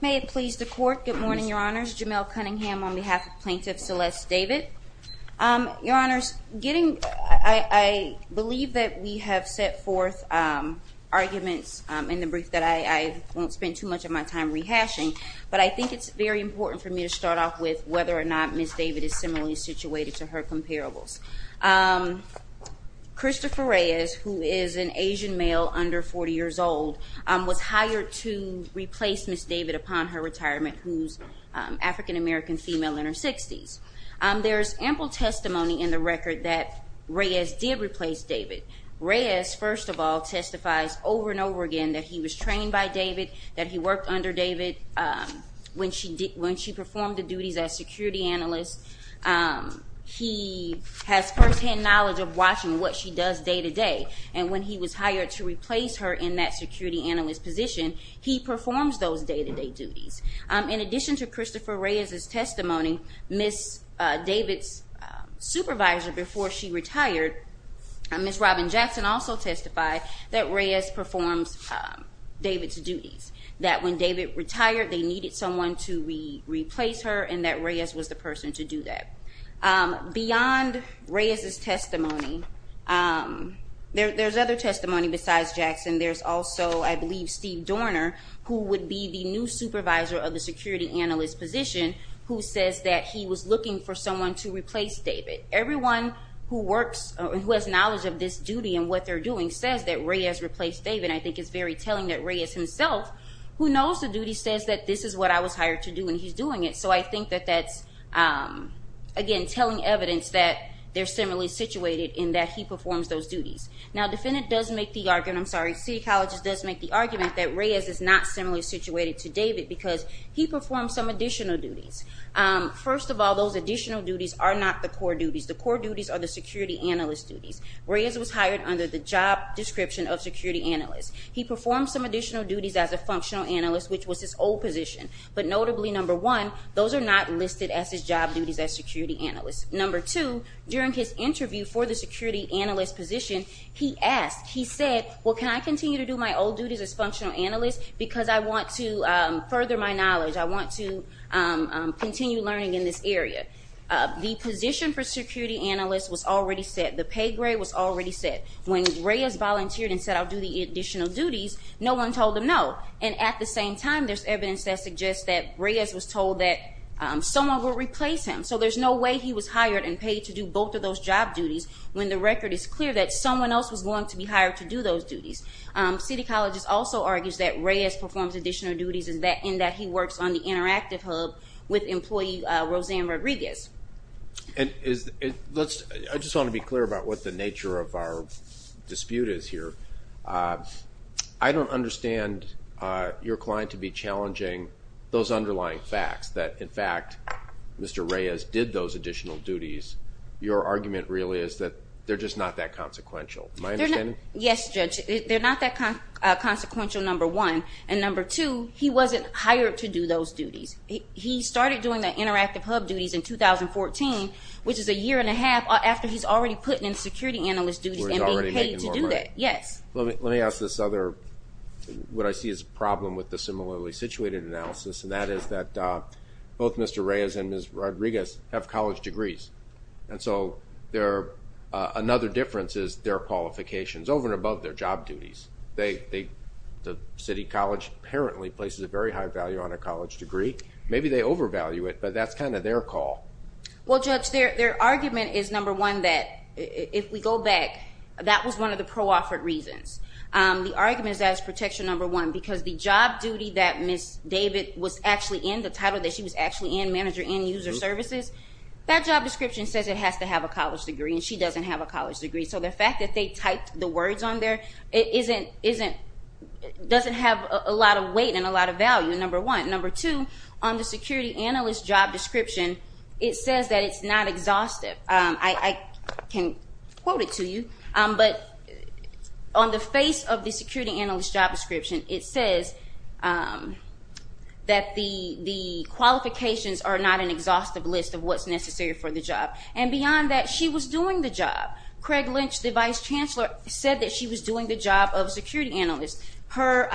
May it please the Court. Good morning, Your Honors. Jamel Cunningham on behalf of Plaintiff Celeste David. Your Honors, getting, I believe that we have set forth arguments in the brief that I won't spend too much of my time rehashing, but I think it's very important for me to start off with whether or not Ms. David is similarly situated to her comparables. Christopher Reyes, who is an Asian male under 40 years old, was hired to replace Ms. David upon her retirement, who's African-American female in her 60s. There's ample testimony in the record that Reyes did replace David. Reyes, first of all, testifies over and over again that he was trained by David, that he worked under David, when she did, when she performed the duties as security analyst. He has firsthand knowledge of watching what she does day to day, and when he was hired to replace her in that security analyst position, he performs those day-to-day duties. In addition to Christopher Reyes' testimony, Ms. David's supervisor before she retired, Ms. Robin Jackson also testified that Reyes performs David's duties, that when David retired, they needed someone to replace her, and that Reyes was the person to do that. Beyond Reyes' testimony, there's other testimony besides Jackson. There's also, I believe, Steve Dorner, who would be the new supervisor of the security analyst position, who says that he was looking for someone to replace David. Everyone who works, who has knowledge of this duty and what they're doing, says that Reyes replaced David. I think it's very telling that Reyes himself, who knows the duty, says that this is what I was hired to do and he's doing it. So I think that that's again, telling evidence that they're similarly situated in that he performs those duties. Now, defendant does make the argument, I'm sorry, City Colleges does make the argument that Reyes is not similarly situated to David because he performed some additional duties. First of all, those additional duties are not the core duties. The core duties are the security analyst duties. Reyes was hired under the job description of security analyst. He performed some additional duties as a functional analyst, which was his old position. But notably, number one, those are not listed as his job duties as security analyst. Number two, during his interview for the security analyst position, he asked, he said, well, can I continue to do my old duties as functional analyst because I want to further my knowledge. I want to continue learning in this area. The position for security analyst was already set. The pay grade was already set. When Reyes volunteered and said I'll do the additional duties, no one told him no. And at the same time, there's evidence that suggests that Reyes was told that someone will replace him. So there's no way he was hired and paid to do both of those job duties when the record is clear that someone else was going to be hired to do those duties. City Colleges also argues that Reyes performs additional duties in that he works on the interactive hub with employee Roseanne Rodriguez. And is it, let's, I just want to be clear about what the nature of our dispute is here. I don't understand your client to be challenging those underlying facts that, in fact, Mr. Reyes did those additional duties. Your argument really is that they're just not that consequential. Am I understanding? Yes, Judge. They're not that consequential, number one. And number two, he wasn't hired to do those duties. He started doing the interactive hub duties in 2014, which is a year and a half after he's already putting in security analyst duties and being paid to do that. Yes. Let me ask this other, what I see as a problem with the similarly situated analysis, and that is that both Mr. Reyes and Ms. Rodriguez have college degrees. And so there, another difference is their qualifications over and above their job duties. They, the City College apparently places a very high value on a college degree. Maybe they overvalue it, but that's kind of their call. Well, Judge, their argument is, number one, that if we go back, that was one of the pro-offered reasons. The argument is that it's protection, number one, because the job duty that Ms. David was actually in, the title that she was actually in, manager in user services, that job description says it has to have a college degree, and she doesn't have a college degree. So the fact that they typed the words on there, it isn't, isn't, doesn't have a lot of weight and a lot of value, number one. Number two, on the security analyst job description, it says that it's not exhaustive. I, I can quote it to you, but on the face of the security analyst job description, it says that the, the qualifications are not an exhaustive list of what's necessary for the job. And beyond that, she was doing the job. Craig Lynch, the Vice Chancellor, said that she was doing the job of security analyst. Her,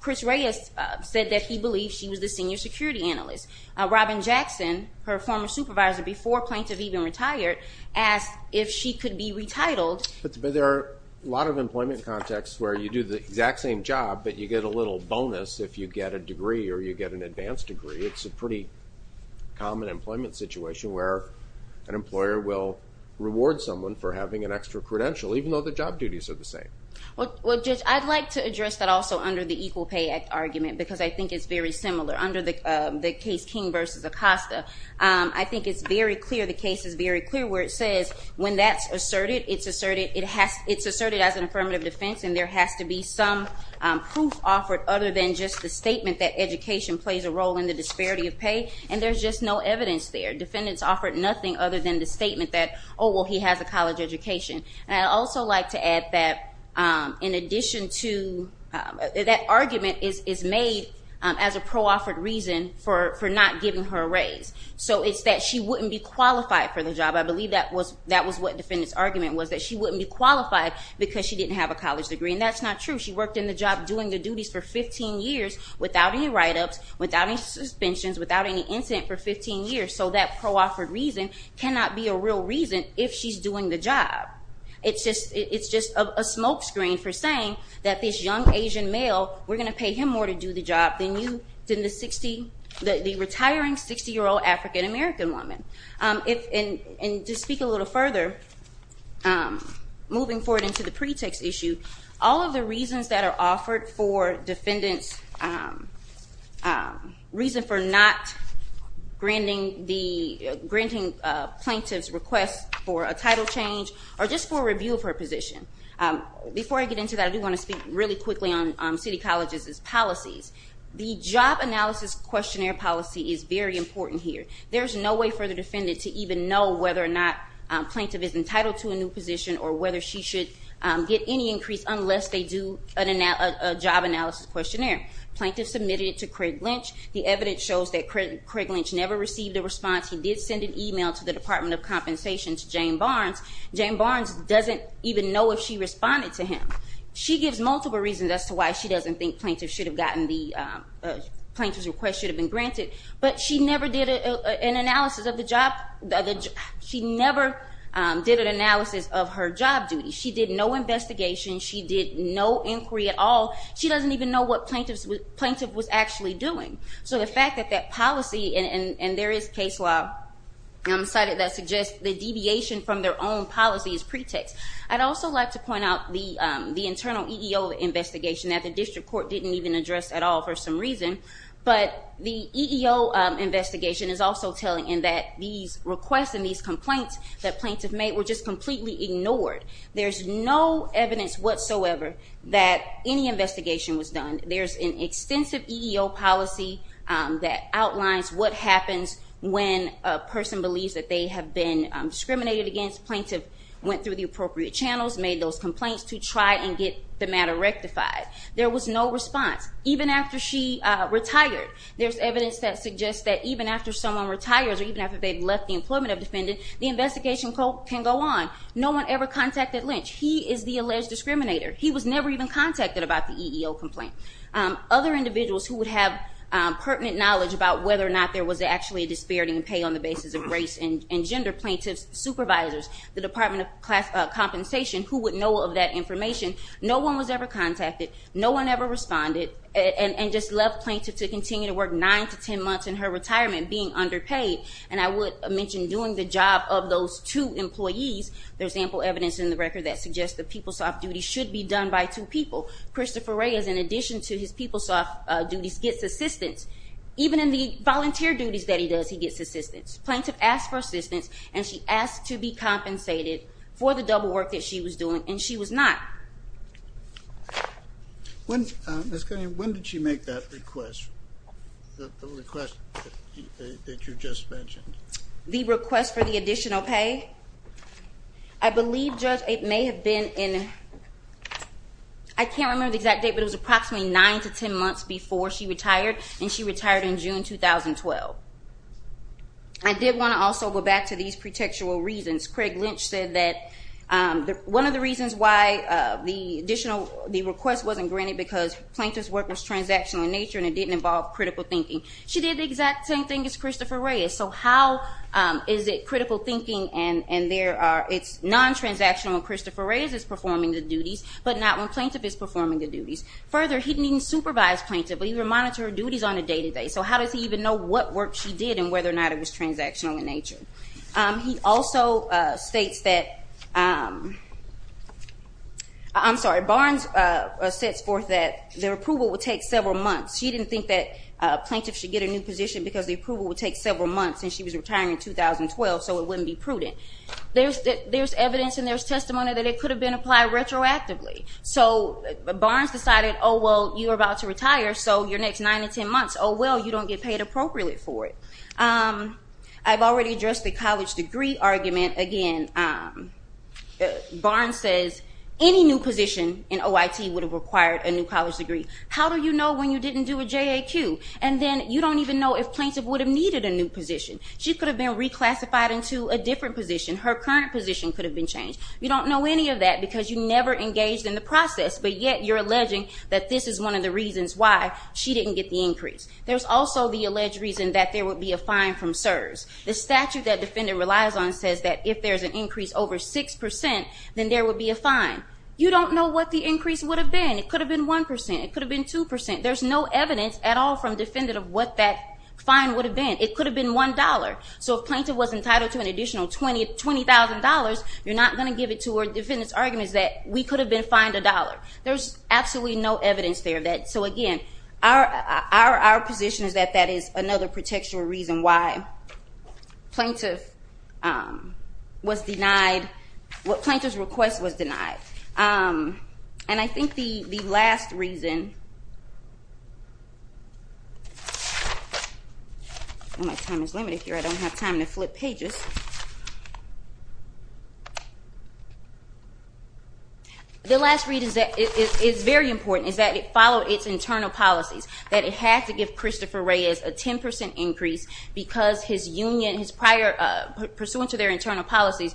Chris Reyes said that he believed she was the senior security analyst. Robin Jackson, her former supervisor before plaintiff even retired, asked if she could be retitled. But there are a lot of employment contexts where you do the exact same job, but you get a little bonus if you get a degree or you get an advanced degree. It's a pretty common employment situation where an employer will reward someone for having an extra credential, even though the job duties are the same. Well, Judge, I'd like to address that also under the Equal Pay Act argument, because I think it's very similar. Under the case King v. Acosta, I think it's very clear, the case is very clear, where it says when that's asserted, it's asserted, it has, it's asserted as an affirmative defense, and there has to be some proof offered other than just the statement that education plays a role in the disparity of pay, and there's just no evidence there. Defendants offered nothing other than the statement that, oh, well, he has a college education. And I'd also like to add that in addition to, that argument is made as a pro-offered reason for not giving her a raise. So it's that she wouldn't be qualified for the job. I believe that was, that was what defendants argument was, that she wouldn't be qualified because she didn't have a college degree, and that's not true. She worked in the job doing the duties for 15 years without any write-ups, without any suspensions, without any incident for 15 years. So that pro-offered reason cannot be a real reason if she's doing the job. It's just, it's just a smokescreen for saying that this young Asian male, we're going to pay him more to do the job than you, than the 60, the retiring 60-year-old African-American woman. If, and to speak a little further, moving forward into the pretext issue, all of the reasons that are offered for defendants, reason for not granting the, granting plaintiff's request for a title change, or just for a review of her position. Before I get into that, I do want to speak really quickly on City Colleges' policies. The job analysis questionnaire policy is very important here. There's no way for the defendant to even know whether or not plaintiff is entitled to a new position, or whether she should get any increase unless they do a job analysis questionnaire. Plaintiff submitted it to Craig Lynch. The evidence shows that Craig Lynch never received a response. He did send an email to the Department of Compensation to Jane Barnes. Jane Barnes doesn't even know if she responded to him. She gives multiple reasons as to why she doesn't think plaintiff should have gotten the, plaintiff's request should have been granted. But she never did an analysis of the job, she never did an analysis of her job duty. She did no investigation. She did no inquiry at all. She doesn't even know what plaintiff was actually doing. So the fact that that policy, and there is case law cited that suggests the deviation from their own policy is pretext. I'd also like to point out the internal EEO investigation that the district court didn't even address at all for some reason. But the EEO investigation is also telling in that these requests and these complaints that plaintiff made were just completely ignored. There's no evidence whatsoever that any investigation was done. There's an extensive EEO policy that outlines what happens when a person believes that they have been discriminated against. Plaintiff went through the appropriate channels, made those complaints to try and get the matter rectified. There was no response, even after she retired. There's evidence that suggests that even after someone retires, or even after they've left the employment of defendant, the investigation can go on. No one ever contacted Lynch. He is the alleged discriminator. He was never even contacted about the EEO complaint. Other individuals who would have pertinent knowledge about whether or not there was actually a disparity in pay on the basis of race and gender. Plaintiff's supervisors, the Department of Compensation, who would know of that information. No one was ever contacted. No one ever responded, and just left plaintiff to continue to work nine to ten months in her retirement being underpaid. And I would mention doing the job of those two employees. There's ample evidence in the record that suggests that people's soft duties should be done by two people. Christopher Reyes, in addition to his people's soft duties, gets assistance. Even in the volunteer duties that he does, he gets assistance. Plaintiff asked for assistance, and she asked to be compensated for the double work that she was doing, and she was not. When, Ms. Cunningham, when did she make that request, the request that you just mentioned? The request for the additional pay? I believe, Judge, it may have been in, I can't remember the exact date, but it was approximately nine to ten months before she retired, and she retired in June 2012. I did want to also go back to these pretextual reasons. Craig Lynch said that one of the reasons why the request wasn't granted, because plaintiff's work was transactional in nature, and it didn't involve critical thinking. She did the exact same thing as Christopher Reyes. So how is it critical thinking, and it's non-transactional when Christopher Reyes is performing the duties, but not when plaintiff is performing the duties. Further, he didn't even supervise plaintiff, but he would monitor her duties on a day-to-day. So how does he even know what work she did, and whether or not it was transactional in nature? He also states that, I'm sorry, Barnes sets forth that the approval would take several months. She didn't think that plaintiff should get a new position because the approval would take several months, and she was retiring in 2012, so it wouldn't be prudent. There's evidence and there's testimony that it could have been applied retroactively. So Barnes decided, well, you're about to retire, so your next nine to ten months, well, you don't get paid appropriately for it. I've already addressed the college degree argument. Again, Barnes says any new position in OIT would have required a new college degree. How do you know when you didn't do a JAQ? And then you don't even know if plaintiff would have needed a new position. She could have been reclassified into a different position. Her current position could have been changed. You don't know any of that because you never engaged in the process, but yet you're alleging that this is one of the reasons why she didn't get the increase. There's also the alleged reason that there would be a fine from CSRS. The statute that defendant relies on says that if there's an increase over 6%, then there would be a fine. You don't know what the increase would have been. It could have been 1%. It could have been 2%. There's no evidence at all from defendant of what that fine would have been. It could have been $1. So if plaintiff was entitled to an additional $20,000, you're not going to give it to her. Defendant's argument is that we could have been fined $1. There's absolutely no evidence there. So again, our position is that that is another contextual reason why plaintiff was denied, what plaintiff's request was denied. And I think the last reason, my time is limited here. I don't have time to flip pages. The last reason is that it's very important, is that it followed its internal policies, that it had to give Christopher Reyes a 10% increase because his union, pursuant to their internal policies,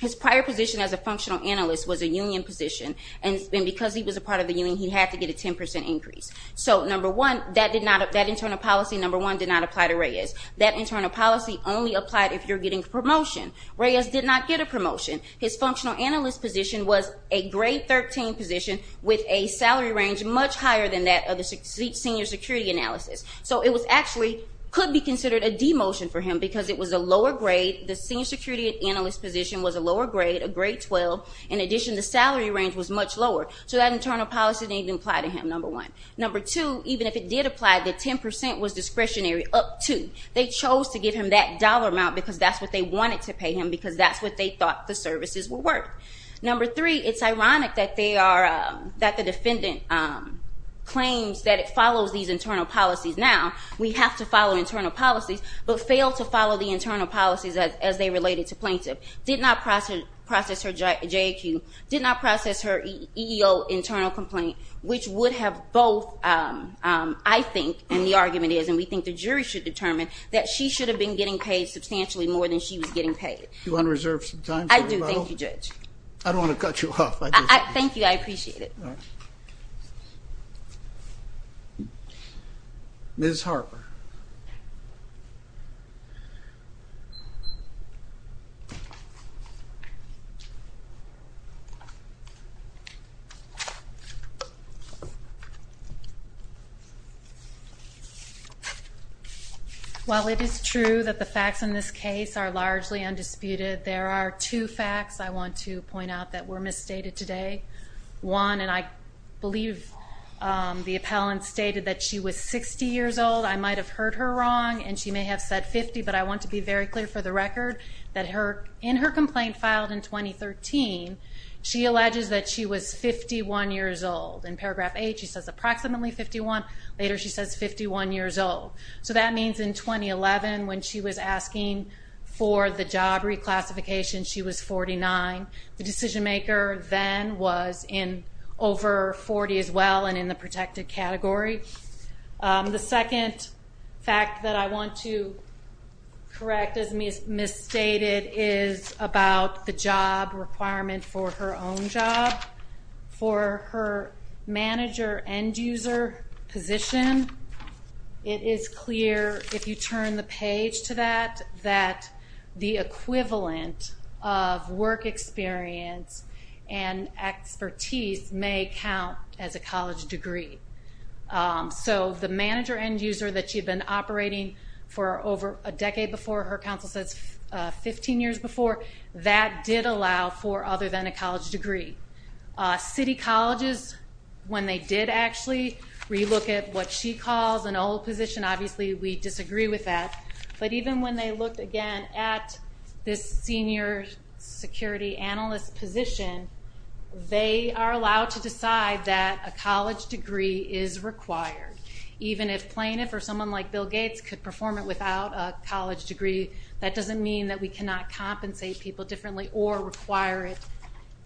his prior position as a functional analyst was a union position. And because he was a part of the union, he had to get a 10% increase. So number one, that internal policy, number one, did not apply to Reyes. That internal policy only applied if you're getting a promotion. Reyes did not get a promotion. His functional analyst position was a grade 13 position with a salary range much higher than that of the senior security analysis. So it actually could be considered a demotion for him because it was a lower grade. The senior security analyst position was a lower grade, a grade 12. In addition, the salary range was much lower. So that internal policy didn't even apply to him, number one. Number two, even if it did apply, the 10% was discretionary, up two. They chose to give him that dollar amount because that's what they wanted to pay him, because that's what they thought the services were worth. Number three, it's ironic that the defendant claims that it follows these internal policies. Now, we have to follow internal policies, but failed to follow the internal policies as they related to plaintiff. Did not process her JEQ. Did not process her EEO internal complaint, which would have both, I think, and the argument is, and we think the jury should determine, that she should have been getting paid substantially more than she was getting paid. Do you want to reserve some time? I do, thank you, Judge. I don't want to cut you off. Thank you. I appreciate it. All right. Ms. Harper. While it is true that the facts in this case are largely undisputed, there are two facts I want to point out that were misstated today. One, and I believe the appellant stated that she was 60 years old. I might have heard her wrong, and she may have said 50, but I want to be very clear for the record that in her complaint filed in 2013, she alleges that she was 51 years old. In paragraph 8, she says approximately 51. Later, she says 51 years old. So that means in 2011, when she was asking for the job reclassification, she was 49. The decision maker then was in over 40 as well and in the protected category. The second fact that I want to correct as misstated is about the job requirement for her own job. For her manager end user position, it is clear, if you turn the page to that, that the equivalent of work experience and expertise may count as a college degree. So the manager end user that she had been operating for over a decade before, her counsel says 15 years before, that did allow for other than a college degree. City colleges, when they did actually relook at what she calls an old position, obviously we disagree with that, but even when they looked again at this senior security analyst position, they are allowed to decide that a college degree is required. Even if plaintiff or someone like Bill Gates could perform it without a college degree, that doesn't mean that we cannot compensate people differently or require it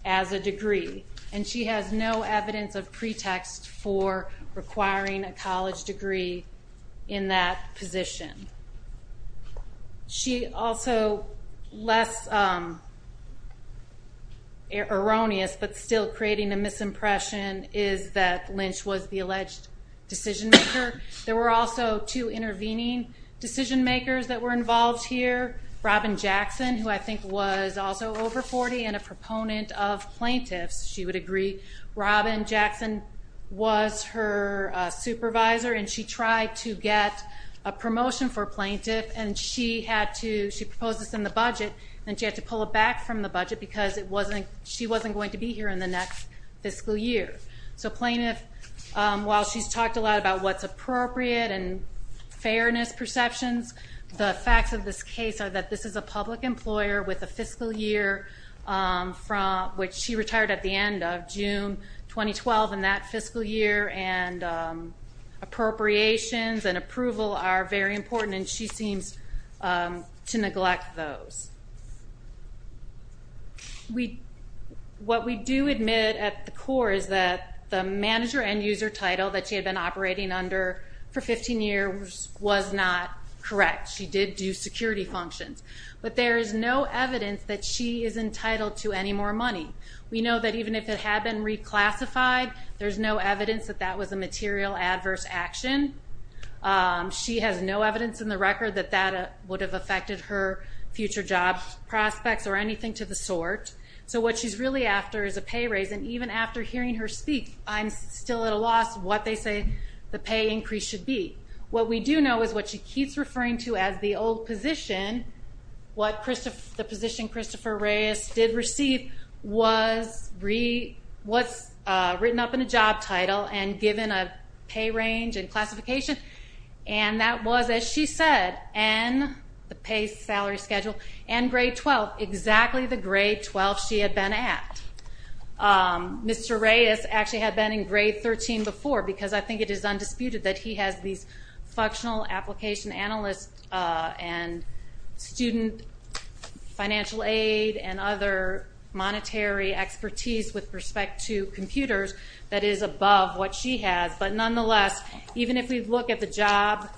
as a degree. And she has no evidence of pretext for requiring a college degree in that position. She also, less erroneous but still creating a misimpression, is that Lynch was the alleged decision maker. There were also two intervening decision makers that were involved here. Robin Jackson, who I think was also over 40 and a proponent of plaintiffs, she would agree. Robin Jackson was her supervisor and she tried to get a promotion for plaintiff and she proposed this in the budget and she had to pull it back from the budget because she wasn't going to be here in the next fiscal year. So plaintiff, while she's talked a lot about what's appropriate and fairness perceptions, the facts of this case are that this is a public employer with a fiscal year, which she retired at the end of June 2012 in that fiscal year, and appropriations and approval are very important and she seems to neglect those. What we do admit at the core is that the manager and user title that she had been operating under for 15 years was not correct. She did do security functions. But there is no evidence that she is entitled to any more money. We know that even if it had been reclassified, there's no evidence that that was a material adverse action. She has no evidence in the record that that would have affected her future job prospects or anything to the sort. So what she's really after is a pay raise, and even after hearing her speak, I'm still at a loss what they say the pay increase should be. What we do know is what she keeps referring to as the old position, what the position Christopher Reyes did receive was written up in a job title and given a pay range and classification, and that was, as she said, and the pay salary schedule and grade 12, exactly the grade 12 she had been at. Mr. Reyes actually had been in grade 13 before because I think it is undisputed that he has these functional application analysts and student financial aid and other monetary expertise with respect to computers that is above what she has. But nonetheless, even if we look at the job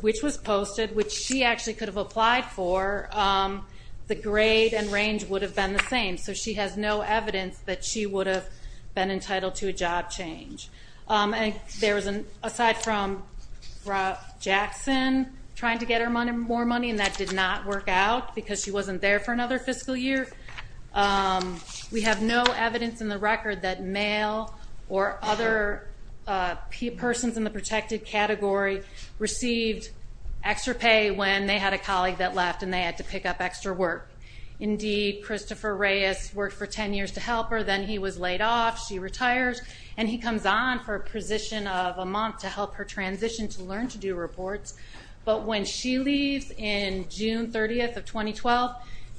which was posted, which she actually could have applied for, the grade and range would have been the same. So she has no evidence that she would have been entitled to a job change. And aside from Rob Jackson trying to get her more money, and that did not work out because she wasn't there for another fiscal year, we have no evidence in the record that male or other persons in the protected category received extra pay when they had a colleague that left and they had to pick up extra work. Indeed, Christopher Reyes worked for 10 years to help her, then he was laid off, she retired, and he comes on for a position of a month to help her transition to learn to do reports. But when she leaves in June 30th of 2012,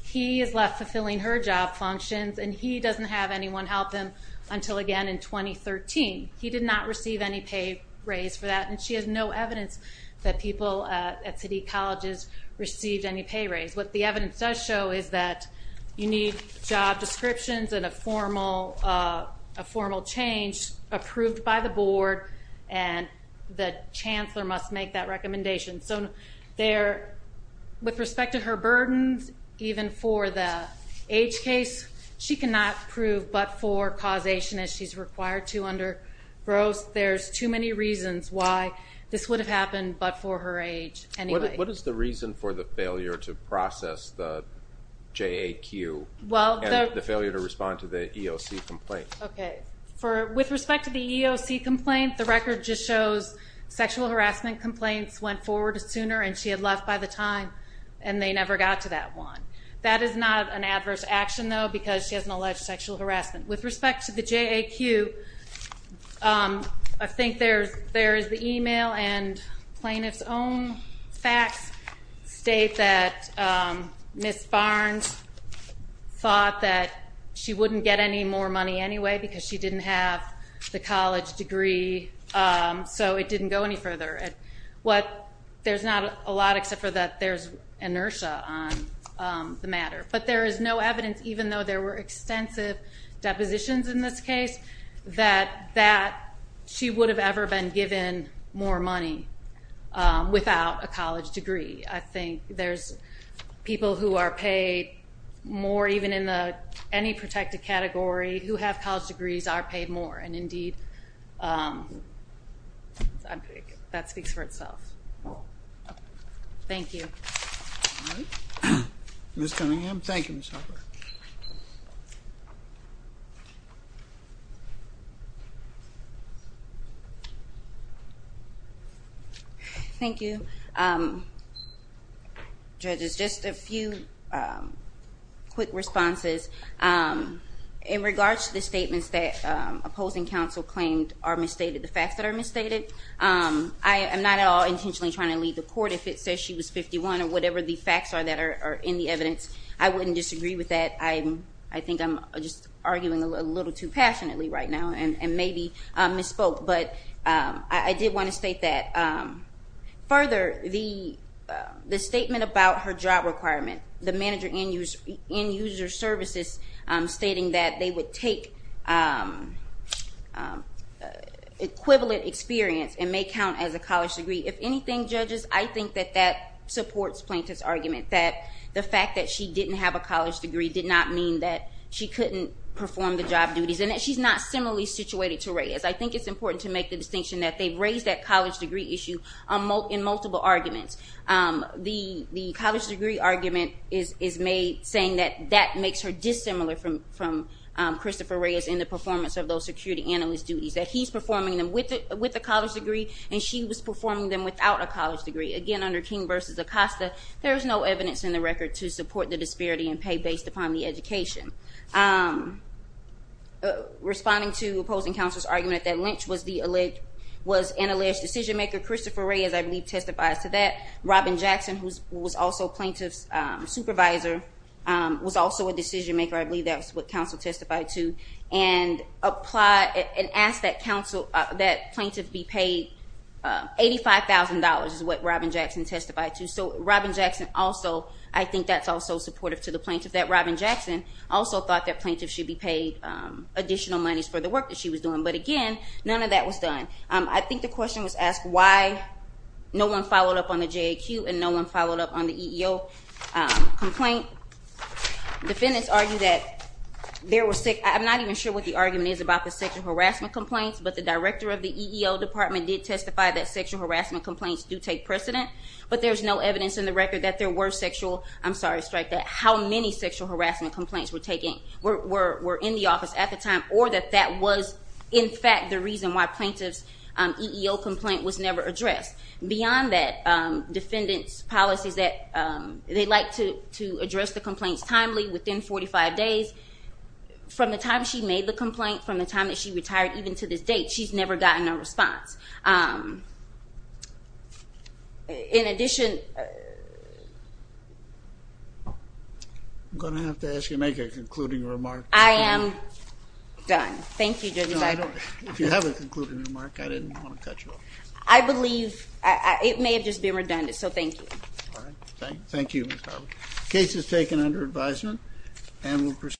he is left fulfilling her job functions and he doesn't have anyone help him until again in 2013. He did not receive any pay raise for that, and she has no evidence that people at city colleges received any pay raise. What the evidence does show is that you need job descriptions and a formal change approved by the board, and the chancellor must make that recommendation. So with respect to her burdens, even for the age case, she cannot prove but for causation as she's required to under GROSS. There's too many reasons why this would have happened but for her age anyway. What is the reason for the failure to process the JAQ and the failure to respond to the EOC complaint? With respect to the EOC complaint, the record just shows sexual harassment complaints went forward sooner and she had left by the time and they never got to that one. That is not an adverse action, though, because she has an alleged sexual harassment. With respect to the JAQ, I think there is the email and plaintiff's own facts state that Ms. Barnes thought that she wouldn't get any more money anyway because she didn't have the college degree, so it didn't go any further. There's not a lot except for that there's inertia on the matter. But there is no evidence, even though there were extensive depositions in this case, that she would have ever been given more money without a college degree. I think there's people who are paid more even in any protected category who have college degrees are paid more, and indeed that speaks for itself. Thank you. All right. Ms. Cunningham. Thank you, Ms. Harper. Thank you. Judges, just a few quick responses. In regards to the statements that opposing counsel claimed are misstated, the facts that are misstated, I am not at all intentionally trying to lead the court. If it says she was 51 or whatever the facts are that are in the evidence, I wouldn't disagree with that. I think I'm just arguing a little too passionately right now and maybe misspoke, but I did want to state that. Further, the statement about her job requirement, the manager in user services stating that they would take equivalent experience and may count as a college degree, if anything, judges, I think that that supports Plaintiff's argument, that the fact that she didn't have a college degree did not mean that she couldn't perform the job duties and that she's not similarly situated to Reyes. I think it's important to make the distinction that they've raised that college degree issue in multiple arguments. The college degree argument is saying that that makes her dissimilar from Christopher Reyes in the performance of those security analyst duties, that he's performing them with a college degree and she was performing them without a college degree. Again, under King v. Acosta, there is no evidence in the record to support the disparity in pay based upon the education. Responding to opposing counsel's argument that Lynch was an alleged decision maker, Christopher Reyes, I believe, testifies to that. Robin Jackson, who was also Plaintiff's supervisor, was also a decision maker. I believe that's what counsel testified to. And asked that Plaintiff be paid $85,000 is what Robin Jackson testified to. So Robin Jackson also, I think that's also supportive to the Plaintiff, that Robin Jackson also thought that Plaintiff should be paid additional monies for the work that she was doing. But again, none of that was done. I think the question was asked why no one followed up on the JAQ and no one followed up on the EEO complaint. Defendants argue that there was, I'm not even sure what the argument is about the sexual harassment complaints, but the director of the EEO department did testify that sexual harassment complaints do take precedent. But there's no evidence in the record that there were sexual, I'm sorry to strike that, how many sexual harassment complaints were taken, were in the office at the time, or that that was in fact the reason why Plaintiff's EEO complaint was never addressed. Beyond that, defendants' policies that they like to address the complaints timely within 45 days. From the time she made the complaint, from the time that she retired, even to this date, she's never gotten a response. In addition... I'm going to have to ask you to make a concluding remark. I am done. Thank you, Judge. If you have a concluding remark, I didn't want to cut you off. I believe it may have just been redundant, so thank you. All right. Thank you, Ms. Harvey. The case is taken under advisement and will proceed...